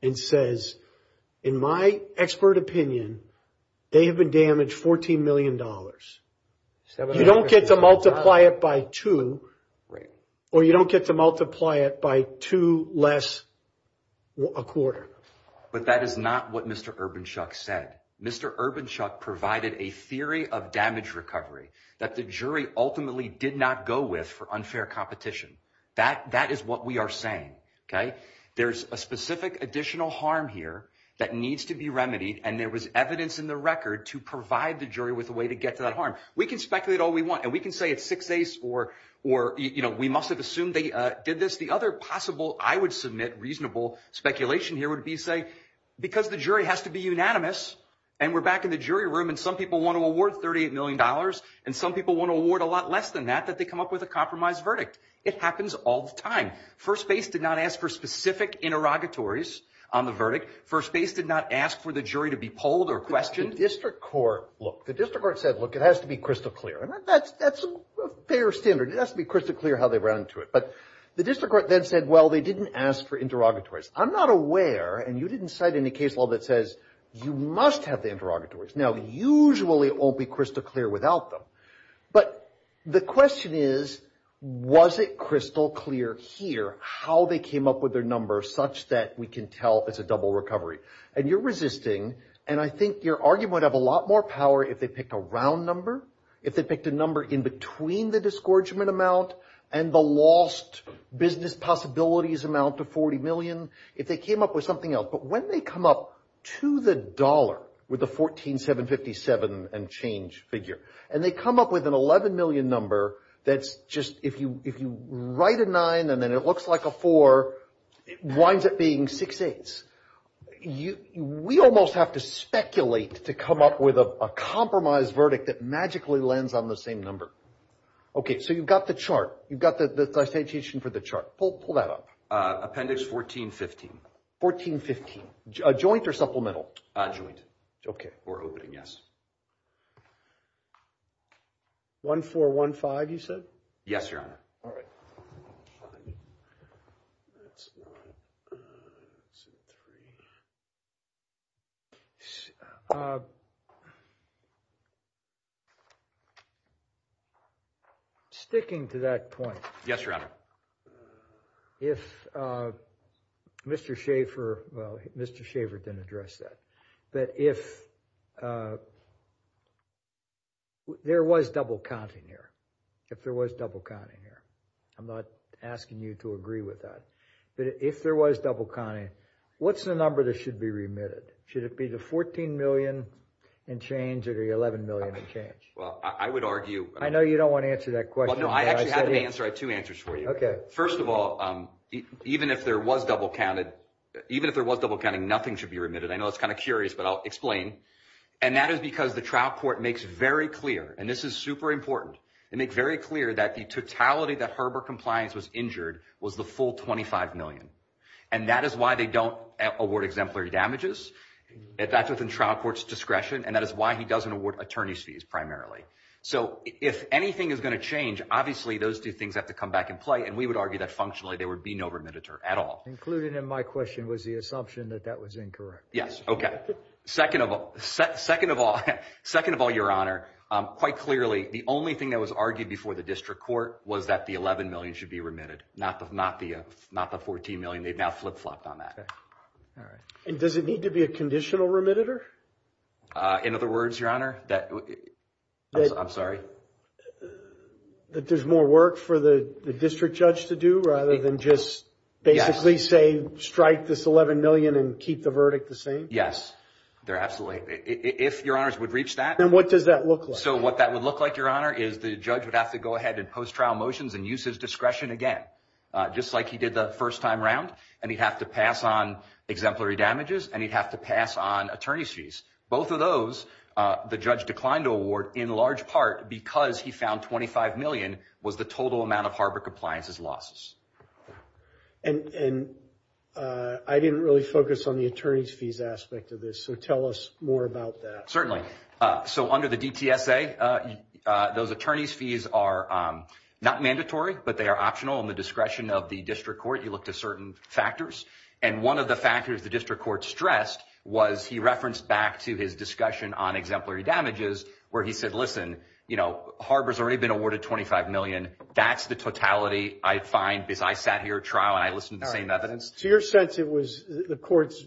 and says, in my expert opinion, they have been damaged $14 million. You don't get to multiply it by two. Right. Or you don't get to multiply it by two less a quarter. But that is not what Mr. Urbanchuck said. Mr. Urbanchuck provided a theory of damage recovery that the jury ultimately did not go with for unfair competition. That is what we are saying. Okay. There's a specific additional harm here that needs to be remedied, and there was evidence in the record to provide the jury with a way to get to that harm. We can speculate all we want, and we can say it's six days or, you know, we must have assumed they did this. The other possible, I would submit, reasonable speculation here would be to say, because the jury has to be unanimous, and we're back in the jury room, and some people want to award $38 million, and some people want to award a lot less than that, that they come up with a compromise verdict. It happens all the time. First base did not ask for specific interrogatories on the verdict. First base did not ask for the jury to be polled or questioned. The district court, look, the district court said, look, it has to be crystal clear. And that's a fair standard. It has to be crystal clear how they ran into it. But the district court then said, well, they didn't ask for interrogatories. I'm not aware, and you didn't cite any case law that says you must have the interrogatories. Now, usually it won't be crystal clear without them. But the question is, was it crystal clear here how they came up with their number such that we can tell it's a double recovery? And you're resisting, and I think your argument would have a lot more power if they picked a round number, if they picked a number in between the disgorgement amount and the lost business possibilities amount to $40 million, if they came up with something else. But when they come up to the dollar with the $14,757 and change figure, and they come up with an $11 million number that's just, if you write a 9 and then it looks like a 4, it winds up being 6 8's. We almost have to speculate to come up with a compromise verdict that magically lands on the same number. Okay, so you've got the chart. You've got the citation for the chart. Pull that up. Appendix 1415. 1415. A joint or supplemental? Joint. Okay. Or opening, yes. 1415, you said? Yes, Your Honor. All right. That's one. That's a three. Sticking to that point. Yes, Your Honor. If Mr. Schaffer, well, Mr. Schaffer didn't address that. But if there was double counting here, if there was double counting here, I'm not asking you to agree with that. But if there was double counting, what's the number that should be remitted? Should it be the $14 million and change or the $11 million and change? Well, I would argue. I know you don't want to answer that question. Well, no, I actually have two answers for you. Okay. First of all, even if there was double counting, nothing should be remitted. I know it's kind of curious, but I'll explain. And that is because the trial court makes very clear, and this is super important. They make very clear that the totality that Herbert Compliance was injured was the full $25 million. And that is why they don't award exemplary damages. That's within trial court's discretion. And that is why he doesn't award attorney's fees primarily. So if anything is going to change, obviously those two things have to come back in play. And we would argue that functionally there would be no remittance at all. Including in my question was the assumption that that was incorrect. Okay. Second of all, your Honor, quite clearly the only thing that was argued before the district court was that the $11 million should be remitted. Not the $14 million. They've now flip-flopped on that. Okay. All right. And does it need to be a conditional remittitor? In other words, your Honor, I'm sorry? That there's more work for the district judge to do rather than just basically say strike this $11 million and keep the verdict the same? Absolutely. If your Honors would reach that. Then what does that look like? So what that would look like, your Honor, is the judge would have to go ahead and post trial motions and use his discretion again. Just like he did the first time around. And he'd have to pass on exemplary damages. And he'd have to pass on attorney's fees. Both of those, the judge declined to award in large part because he found $25 million was the total amount of Harbor Compliances losses. And I didn't really focus on the attorney's fees aspect of this. So tell us more about that. Certainly. So under the DTSA, those attorney's fees are not mandatory, but they are optional in the discretion of the district court. You look to certain factors. And one of the factors the district court stressed was he referenced back to his discussion on exemplary damages where he said, listen, you know, harbor's already been awarded $25 million. That's the totality. I find this. I sat here trial and I listened to the same evidence to your sense. It was the court's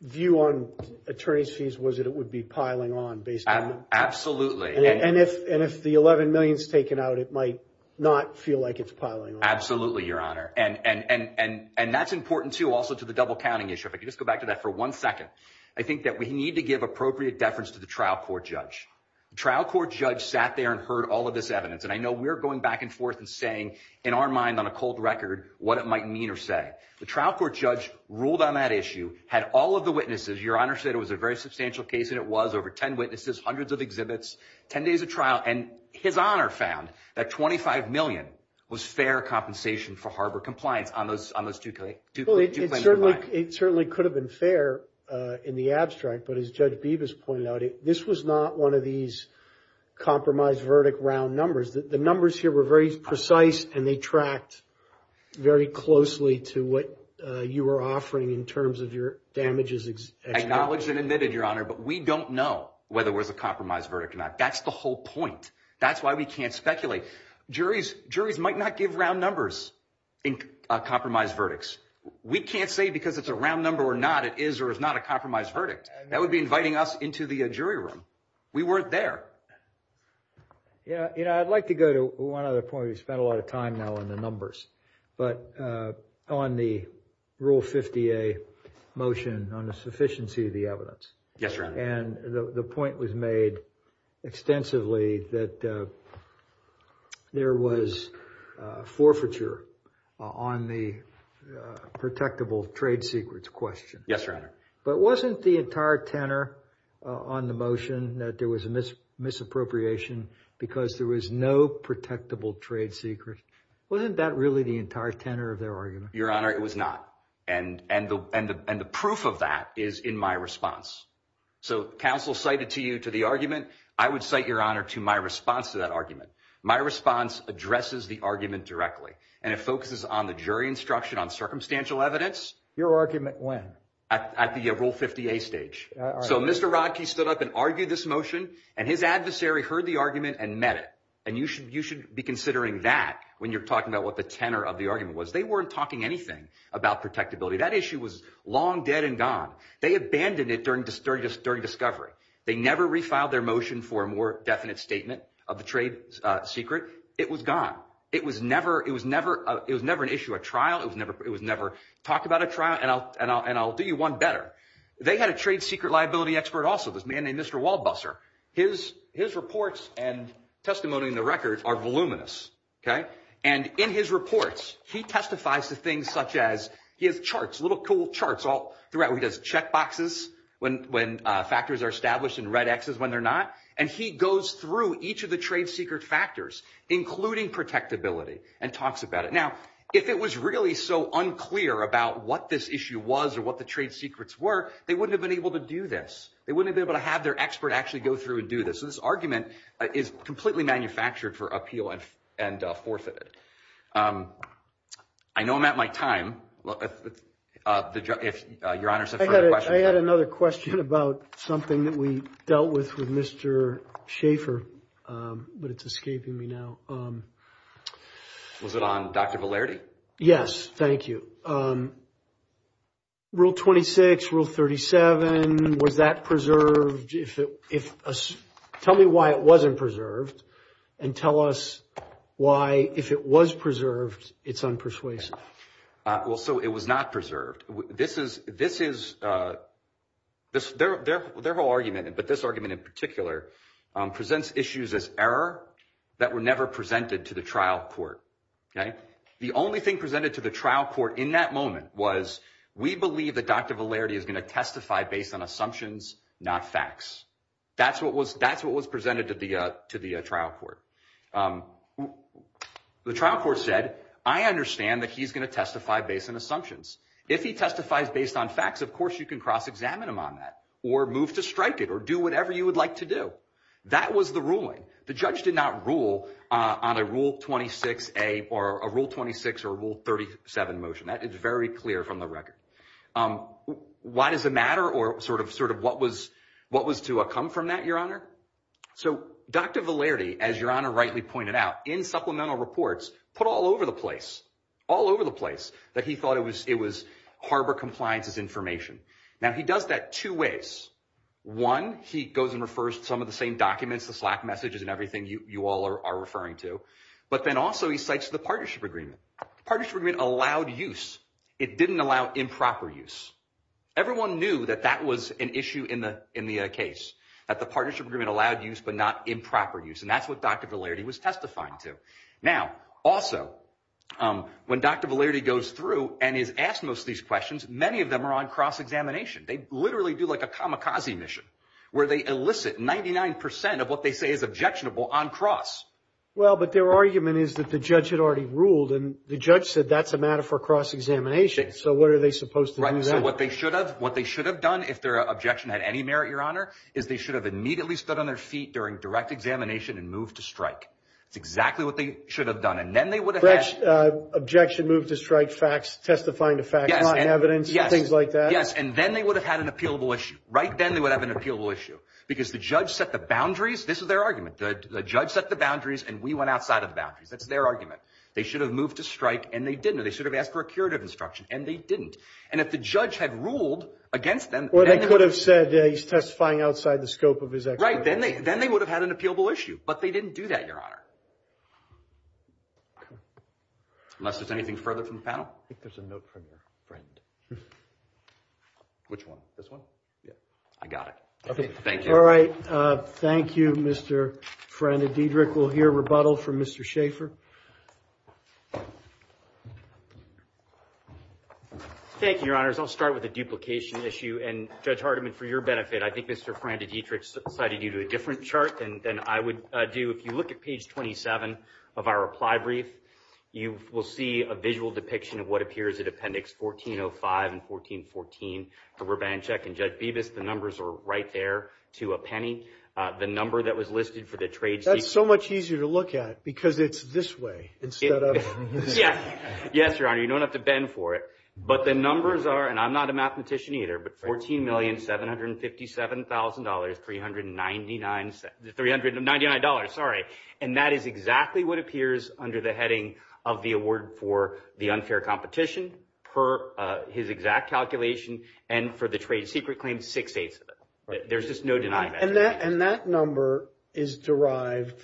view on attorney's fees. Was it? It would be piling on based. Absolutely. And if and if the $11 million is taken out, it might not feel like it's piling. Absolutely, your Honor. And that's important, too, also to the double counting issue. If I could just go back to that for one second. I think that we need to give appropriate deference to the trial court judge. Trial court judge sat there and heard all of this evidence. And I know we're going back and forth and saying in our mind on a cold record what it might mean or say. The trial court judge ruled on that issue, had all of the witnesses. Your Honor said it was a very substantial case and it was over 10 witnesses, hundreds of exhibits, 10 days of trial. And his honor found that $25 million was fair compensation for harbor compliance on those two claims. It certainly could have been fair in the abstract. But as Judge Bibas pointed out, this was not one of these compromise verdict round numbers. The numbers here were very precise and they tracked very closely to what you were offering in terms of your damages. Acknowledged and admitted, your Honor. But we don't know whether it was a compromise verdict or not. That's the whole point. That's why we can't speculate. Juries might not give round numbers in compromise verdicts. We can't say because it's a round number or not it is or is not a compromise verdict. That would be inviting us into the jury room. We weren't there. I'd like to go to one other point. We've spent a lot of time now on the numbers. But on the Rule 50A motion on the sufficiency of the evidence. Yes, your Honor. And the point was made extensively that there was forfeiture on the protectable trade secrets question. Yes, your Honor. But wasn't the entire tenor on the motion that there was a misappropriation because there was no protectable trade secret. Wasn't that really the entire tenor of their argument? Your Honor, it was not. And the proof of that is in my response. So counsel cited to you to the argument. I would cite your Honor to my response to that argument. My response addresses the argument directly. And it focuses on the jury instruction on circumstantial evidence. Your argument when? At the Rule 50A stage. So Mr. Rodkey stood up and argued this motion. And his adversary heard the argument and met it. And you should be considering that when you're talking about what the tenor of the argument was. They weren't talking anything about protectability. That issue was long dead and gone. They abandoned it during discovery. They never refiled their motion for a more definite statement of the trade secret. It was gone. It was never an issue at trial. It was never talk about a trial. And I'll do you one better. They had a trade secret liability expert also, this man named Mr. Waldbusser. His reports and testimony in the record are voluminous. And in his reports, he testifies to things such as he has charts, little cool charts. He does check boxes when factors are established and red Xs when they're not. And he goes through each of the trade secret factors, including protectability, and talks about it. Now, if it was really so unclear about what this issue was or what the trade secrets were, they wouldn't have been able to do this. They wouldn't have been able to have their expert actually go through and do this. So this argument is completely manufactured for appeal and forfeit. I know I'm at my time. If Your Honor said further questions. I had another question about something that we dealt with with Mr. Schaefer, but it's escaping me now. Was it on Dr. Velarde? Yes. Thank you. Rule 26, Rule 37, was that preserved? Tell me why it wasn't preserved and tell us why, if it was preserved, it's unpersuasive. Well, so it was not preserved. This is their whole argument. But this argument in particular presents issues as error that were never presented to the trial court. The only thing presented to the trial court in that moment was we believe that Dr. Velarde is going to testify based on assumptions, not facts. That's what was presented to the trial court. The trial court said, I understand that he's going to testify based on assumptions. If he testifies based on facts, of course you can cross-examine him on that or move to strike it or do whatever you would like to do. That was the ruling. The judge did not rule on a Rule 26 or Rule 37 motion. That is very clear from the record. Why does it matter or sort of what was to come from that, Your Honor? So Dr. Velarde, as Your Honor rightly pointed out, in supplemental reports, put all over the place, all over the place, that he thought it was harbor compliances information. Now he does that two ways. One, he goes and refers to some of the same documents, the Slack messages and everything you all are referring to. But then also he cites the partnership agreement. The partnership agreement allowed use. It didn't allow improper use. Everyone knew that that was an issue in the case, that the partnership agreement allowed use but not improper use. And that's what Dr. Velarde was testifying to. Now, also, when Dr. Velarde goes through and is asked most of these questions, many of them are on cross-examination. They literally do like a kamikaze mission where they elicit 99 percent of what they say is objectionable on cross. Well, but their argument is that the judge had already ruled, and the judge said that's a matter for cross-examination. So what are they supposed to do then? So what they should have done if their objection had any merit, Your Honor, is they should have immediately stood on their feet during direct examination and moved to strike. That's exactly what they should have done. And then they would have had— Objection, moved to strike, facts, testifying to facts, not in evidence, things like that. Yes, and then they would have had an appealable issue. Right then they would have had an appealable issue because the judge set the boundaries. This is their argument. The judge set the boundaries, and we went outside of the boundaries. That's their argument. They should have moved to strike, and they didn't. Or they should have asked for a curative instruction, and they didn't. And if the judge had ruled against them— Or they could have said he's testifying outside the scope of his— Right, then they would have had an appealable issue. But they didn't do that, Your Honor. Unless there's anything further from the panel? I think there's a note from your friend. Which one? This one? Yeah. I got it. Thank you. All right. Thank you, Mr. Fran de Dietrich. We'll hear rebuttal from Mr. Schaefer. Thank you, Your Honors. I'll start with the duplication issue. And Judge Hardiman, for your benefit, I think Mr. Fran de Dietrich cited you to a different chart than I would do. If you look at page 27 of our reply brief, you will see a visual depiction of what appears in Appendix 1405 and 1414 for Rubanchek and Judge Bevis. The numbers are right there to a penny. The number that was listed for the trade— That's so much easier to look at because it's this way instead of— Yes. Yes, Your Honor. You don't have to bend for it. But the numbers are—and I'm not a mathematician either—but $14,757,399. Sorry. And that is exactly what appears under the heading of the award for the unfair competition per his exact calculation and for the trade secret claim, six-eighths of it. There's just no denying that. And that number is derived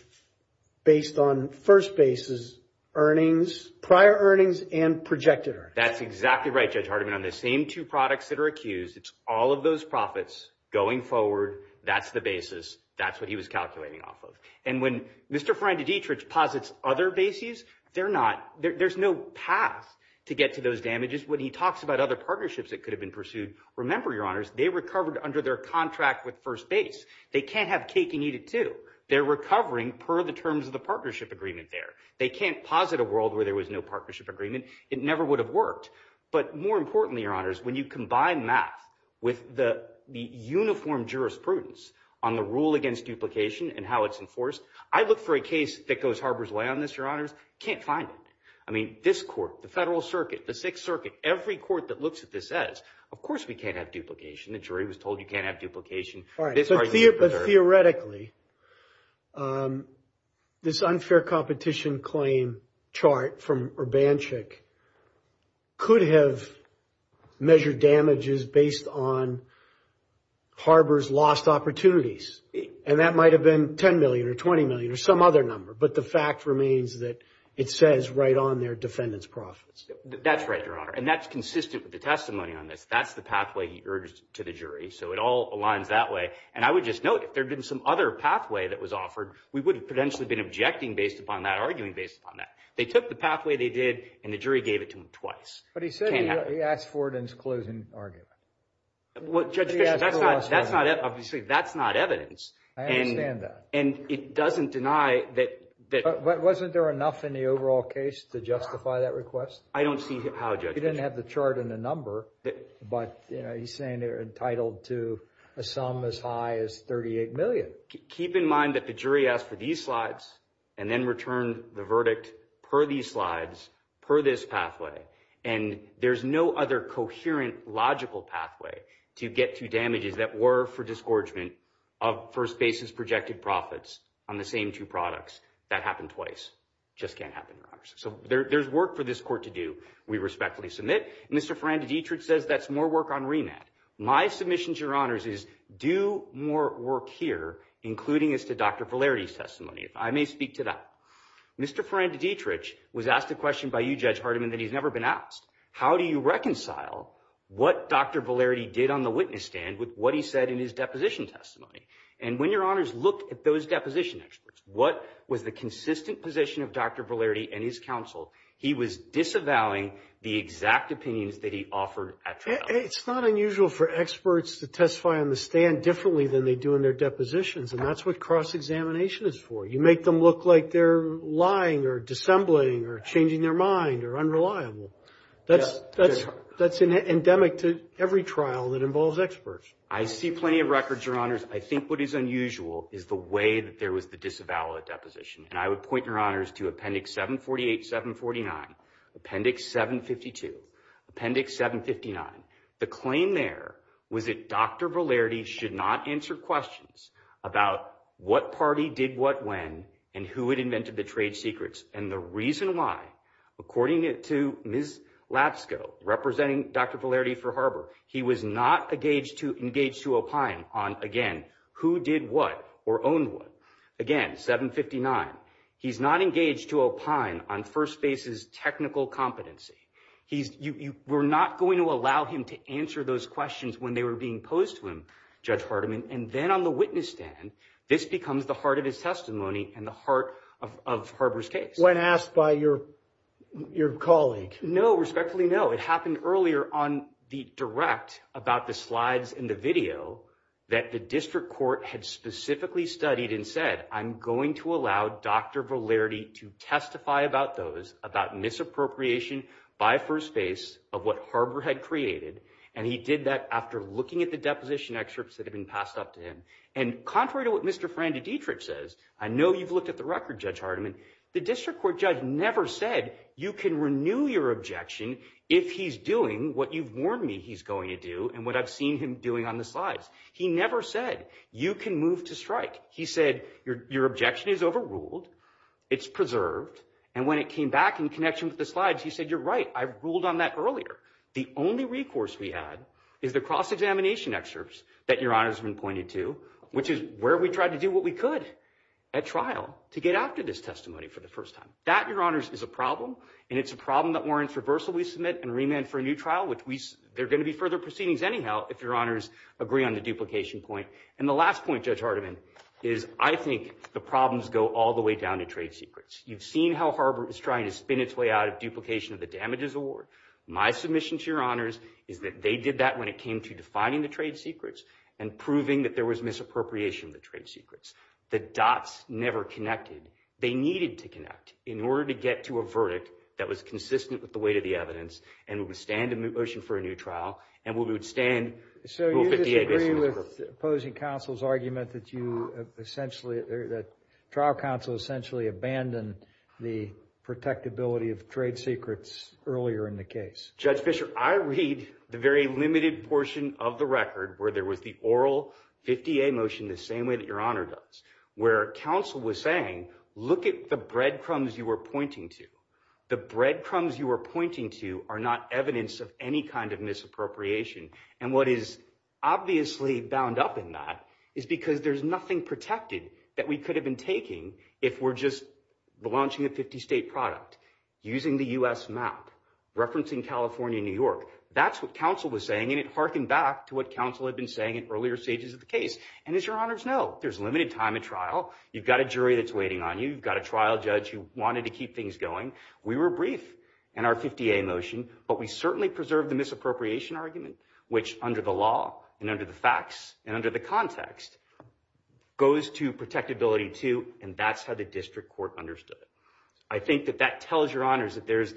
based on first basis earnings, prior earnings, and projected earnings. That's exactly right, Judge Hardiman. On the same two products that are accused, it's all of those profits going forward. That's the basis. That's what he was calculating off of. And when Mr. Ferrandi-Dietrich posits other bases, they're not—there's no path to get to those damages. When he talks about other partnerships that could have been pursued, remember, Your Honors, they recovered under their contract with first base. They can't have cake and eat it, too. They're recovering per the terms of the partnership agreement there. They can't posit a world where there was no partnership agreement. It never would have worked. But more importantly, Your Honors, when you combine math with the uniform jurisprudence on the rule against duplication and how it's enforced, I look for a case that goes harbor's way on this, Your Honors. Can't find it. I mean, this court, the Federal Circuit, the Sixth Circuit, every court that looks at this says, of course we can't have duplication. The jury was told you can't have duplication. But theoretically, this unfair competition claim chart from Urbanchik could have measured damages based on harbor's lost opportunities. And that might have been $10 million or $20 million or some other number. But the fact remains that it says right on their defendant's profits. That's right, Your Honor. And that's consistent with the testimony on this. That's the pathway he urged to the jury. So it all aligns that way. And I would just note, if there had been some other pathway that was offered, we would have potentially been objecting based upon that, arguing based upon that. They took the pathway they did, and the jury gave it to him twice. But he said he asked for it in his closing argument. Well, Judge Fischer, that's not evidence. I understand that. And it doesn't deny that. But wasn't there enough in the overall case to justify that request? I don't see how, Judge Fischer. Well, he didn't have the chart and the number. But, you know, he's saying they're entitled to a sum as high as $38 million. Keep in mind that the jury asked for these slides and then returned the verdict per these slides, per this pathway. And there's no other coherent, logical pathway to get to damages that were for disgorgement of first-basis projected profits on the same two products. That happened twice. Just can't happen, Your Honor. So there's work for this court to do, we respectfully submit. Mr. Ferrandi-Dietrich says that's more work on remand. My submission to Your Honors is do more work here, including as to Dr. Valerdi's testimony, if I may speak to that. Mr. Ferrandi-Dietrich was asked a question by you, Judge Hardiman, that he's never been asked. How do you reconcile what Dr. Valerdi did on the witness stand with what he said in his deposition testimony? And when Your Honors looked at those deposition experts, what was the consistent position of Dr. Valerdi and his counsel, he was disavowing the exact opinions that he offered at trial. It's not unusual for experts to testify on the stand differently than they do in their depositions, and that's what cross-examination is for. You make them look like they're lying or dissembling or changing their mind or unreliable. That's endemic to every trial that involves experts. I see plenty of records, Your Honors. I think what is unusual is the way that there was the disavowal of the deposition, and I would point Your Honors to Appendix 748, 749, Appendix 752, Appendix 759. The claim there was that Dr. Valerdi should not answer questions about what party did what when and who had invented the trade secrets. And the reason why, according to Ms. Lapsko, representing Dr. Valerdi for Harbor, he was not engaged to opine on, again, who did what or owned what. Again, 759, he's not engaged to opine on first base's technical competency. You were not going to allow him to answer those questions when they were being posed to him, Judge Hardiman. And then on the witness stand, this becomes the heart of his testimony and the heart of Harbor's case. When asked by your colleague. No, respectfully, no. What happened earlier on the direct about the slides and the video that the district court had specifically studied and said, I'm going to allow Dr. Valerdi to testify about those, about misappropriation by first base of what Harbor had created. And he did that after looking at the deposition excerpts that had been passed up to him. And contrary to what Mr. Fran de Dietrich says, I know you've looked at the record, Judge Hardiman. The district court judge never said you can renew your objection if he's doing what you've warned me he's going to do and what I've seen him doing on the slides. He never said you can move to strike. He said your objection is overruled. It's preserved. And when it came back in connection with the slides, he said, you're right. I ruled on that earlier. The only recourse we had is the cross-examination excerpts that your honor has been pointed to, which is where we tried to do what we could at trial to get after this testimony for the first time. That, your honors, is a problem. And it's a problem that warrants reversal we submit and remand for a new trial, which they're going to be further proceedings anyhow if your honors agree on the duplication point. And the last point, Judge Hardiman, is I think the problems go all the way down to trade secrets. You've seen how Harbor is trying to spin its way out of duplication of the damages award. My submission to your honors is that they did that when it came to defining the trade secrets and proving that there was misappropriation of the trade secrets. The dots never connected. They needed to connect in order to get to a verdict that was consistent with the weight of the evidence and would withstand a motion for a new trial and would withstand Rule 58. I agree with opposing counsel's argument that trial counsel essentially abandoned the protectability of trade secrets earlier in the case. Judge Fischer, I read the very limited portion of the record where there was the oral 50-A motion the same way that your honor does, where counsel was saying, look at the breadcrumbs you were pointing to. The breadcrumbs you were pointing to are not evidence of any kind of misappropriation. And what is obviously bound up in that is because there's nothing protected that we could have been taking if we're just launching a 50-state product, using the U.S. map, referencing California and New York. That's what counsel was saying, and it hearkened back to what counsel had been saying in earlier stages of the case. And as your honors know, there's limited time at trial. You've got a jury that's waiting on you. You've got a trial judge who wanted to keep things going. We were brief in our 50-A motion, but we certainly preserved the misappropriation argument, which under the law and under the facts and under the context, goes to protectability too, and that's how the district court understood it. I think that that tells your honors that there's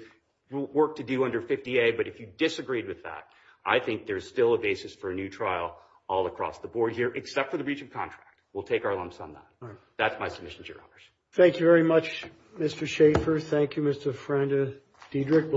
work to do under 50-A, but if you disagreed with that, I think there's still a basis for a new trial all across the board here, except for the breach of contract. We'll take our lumps on that. That's my submission to your honors. Thank you very much, Mr. Schaffer. Thank you, Mr. Friend-Dedrick.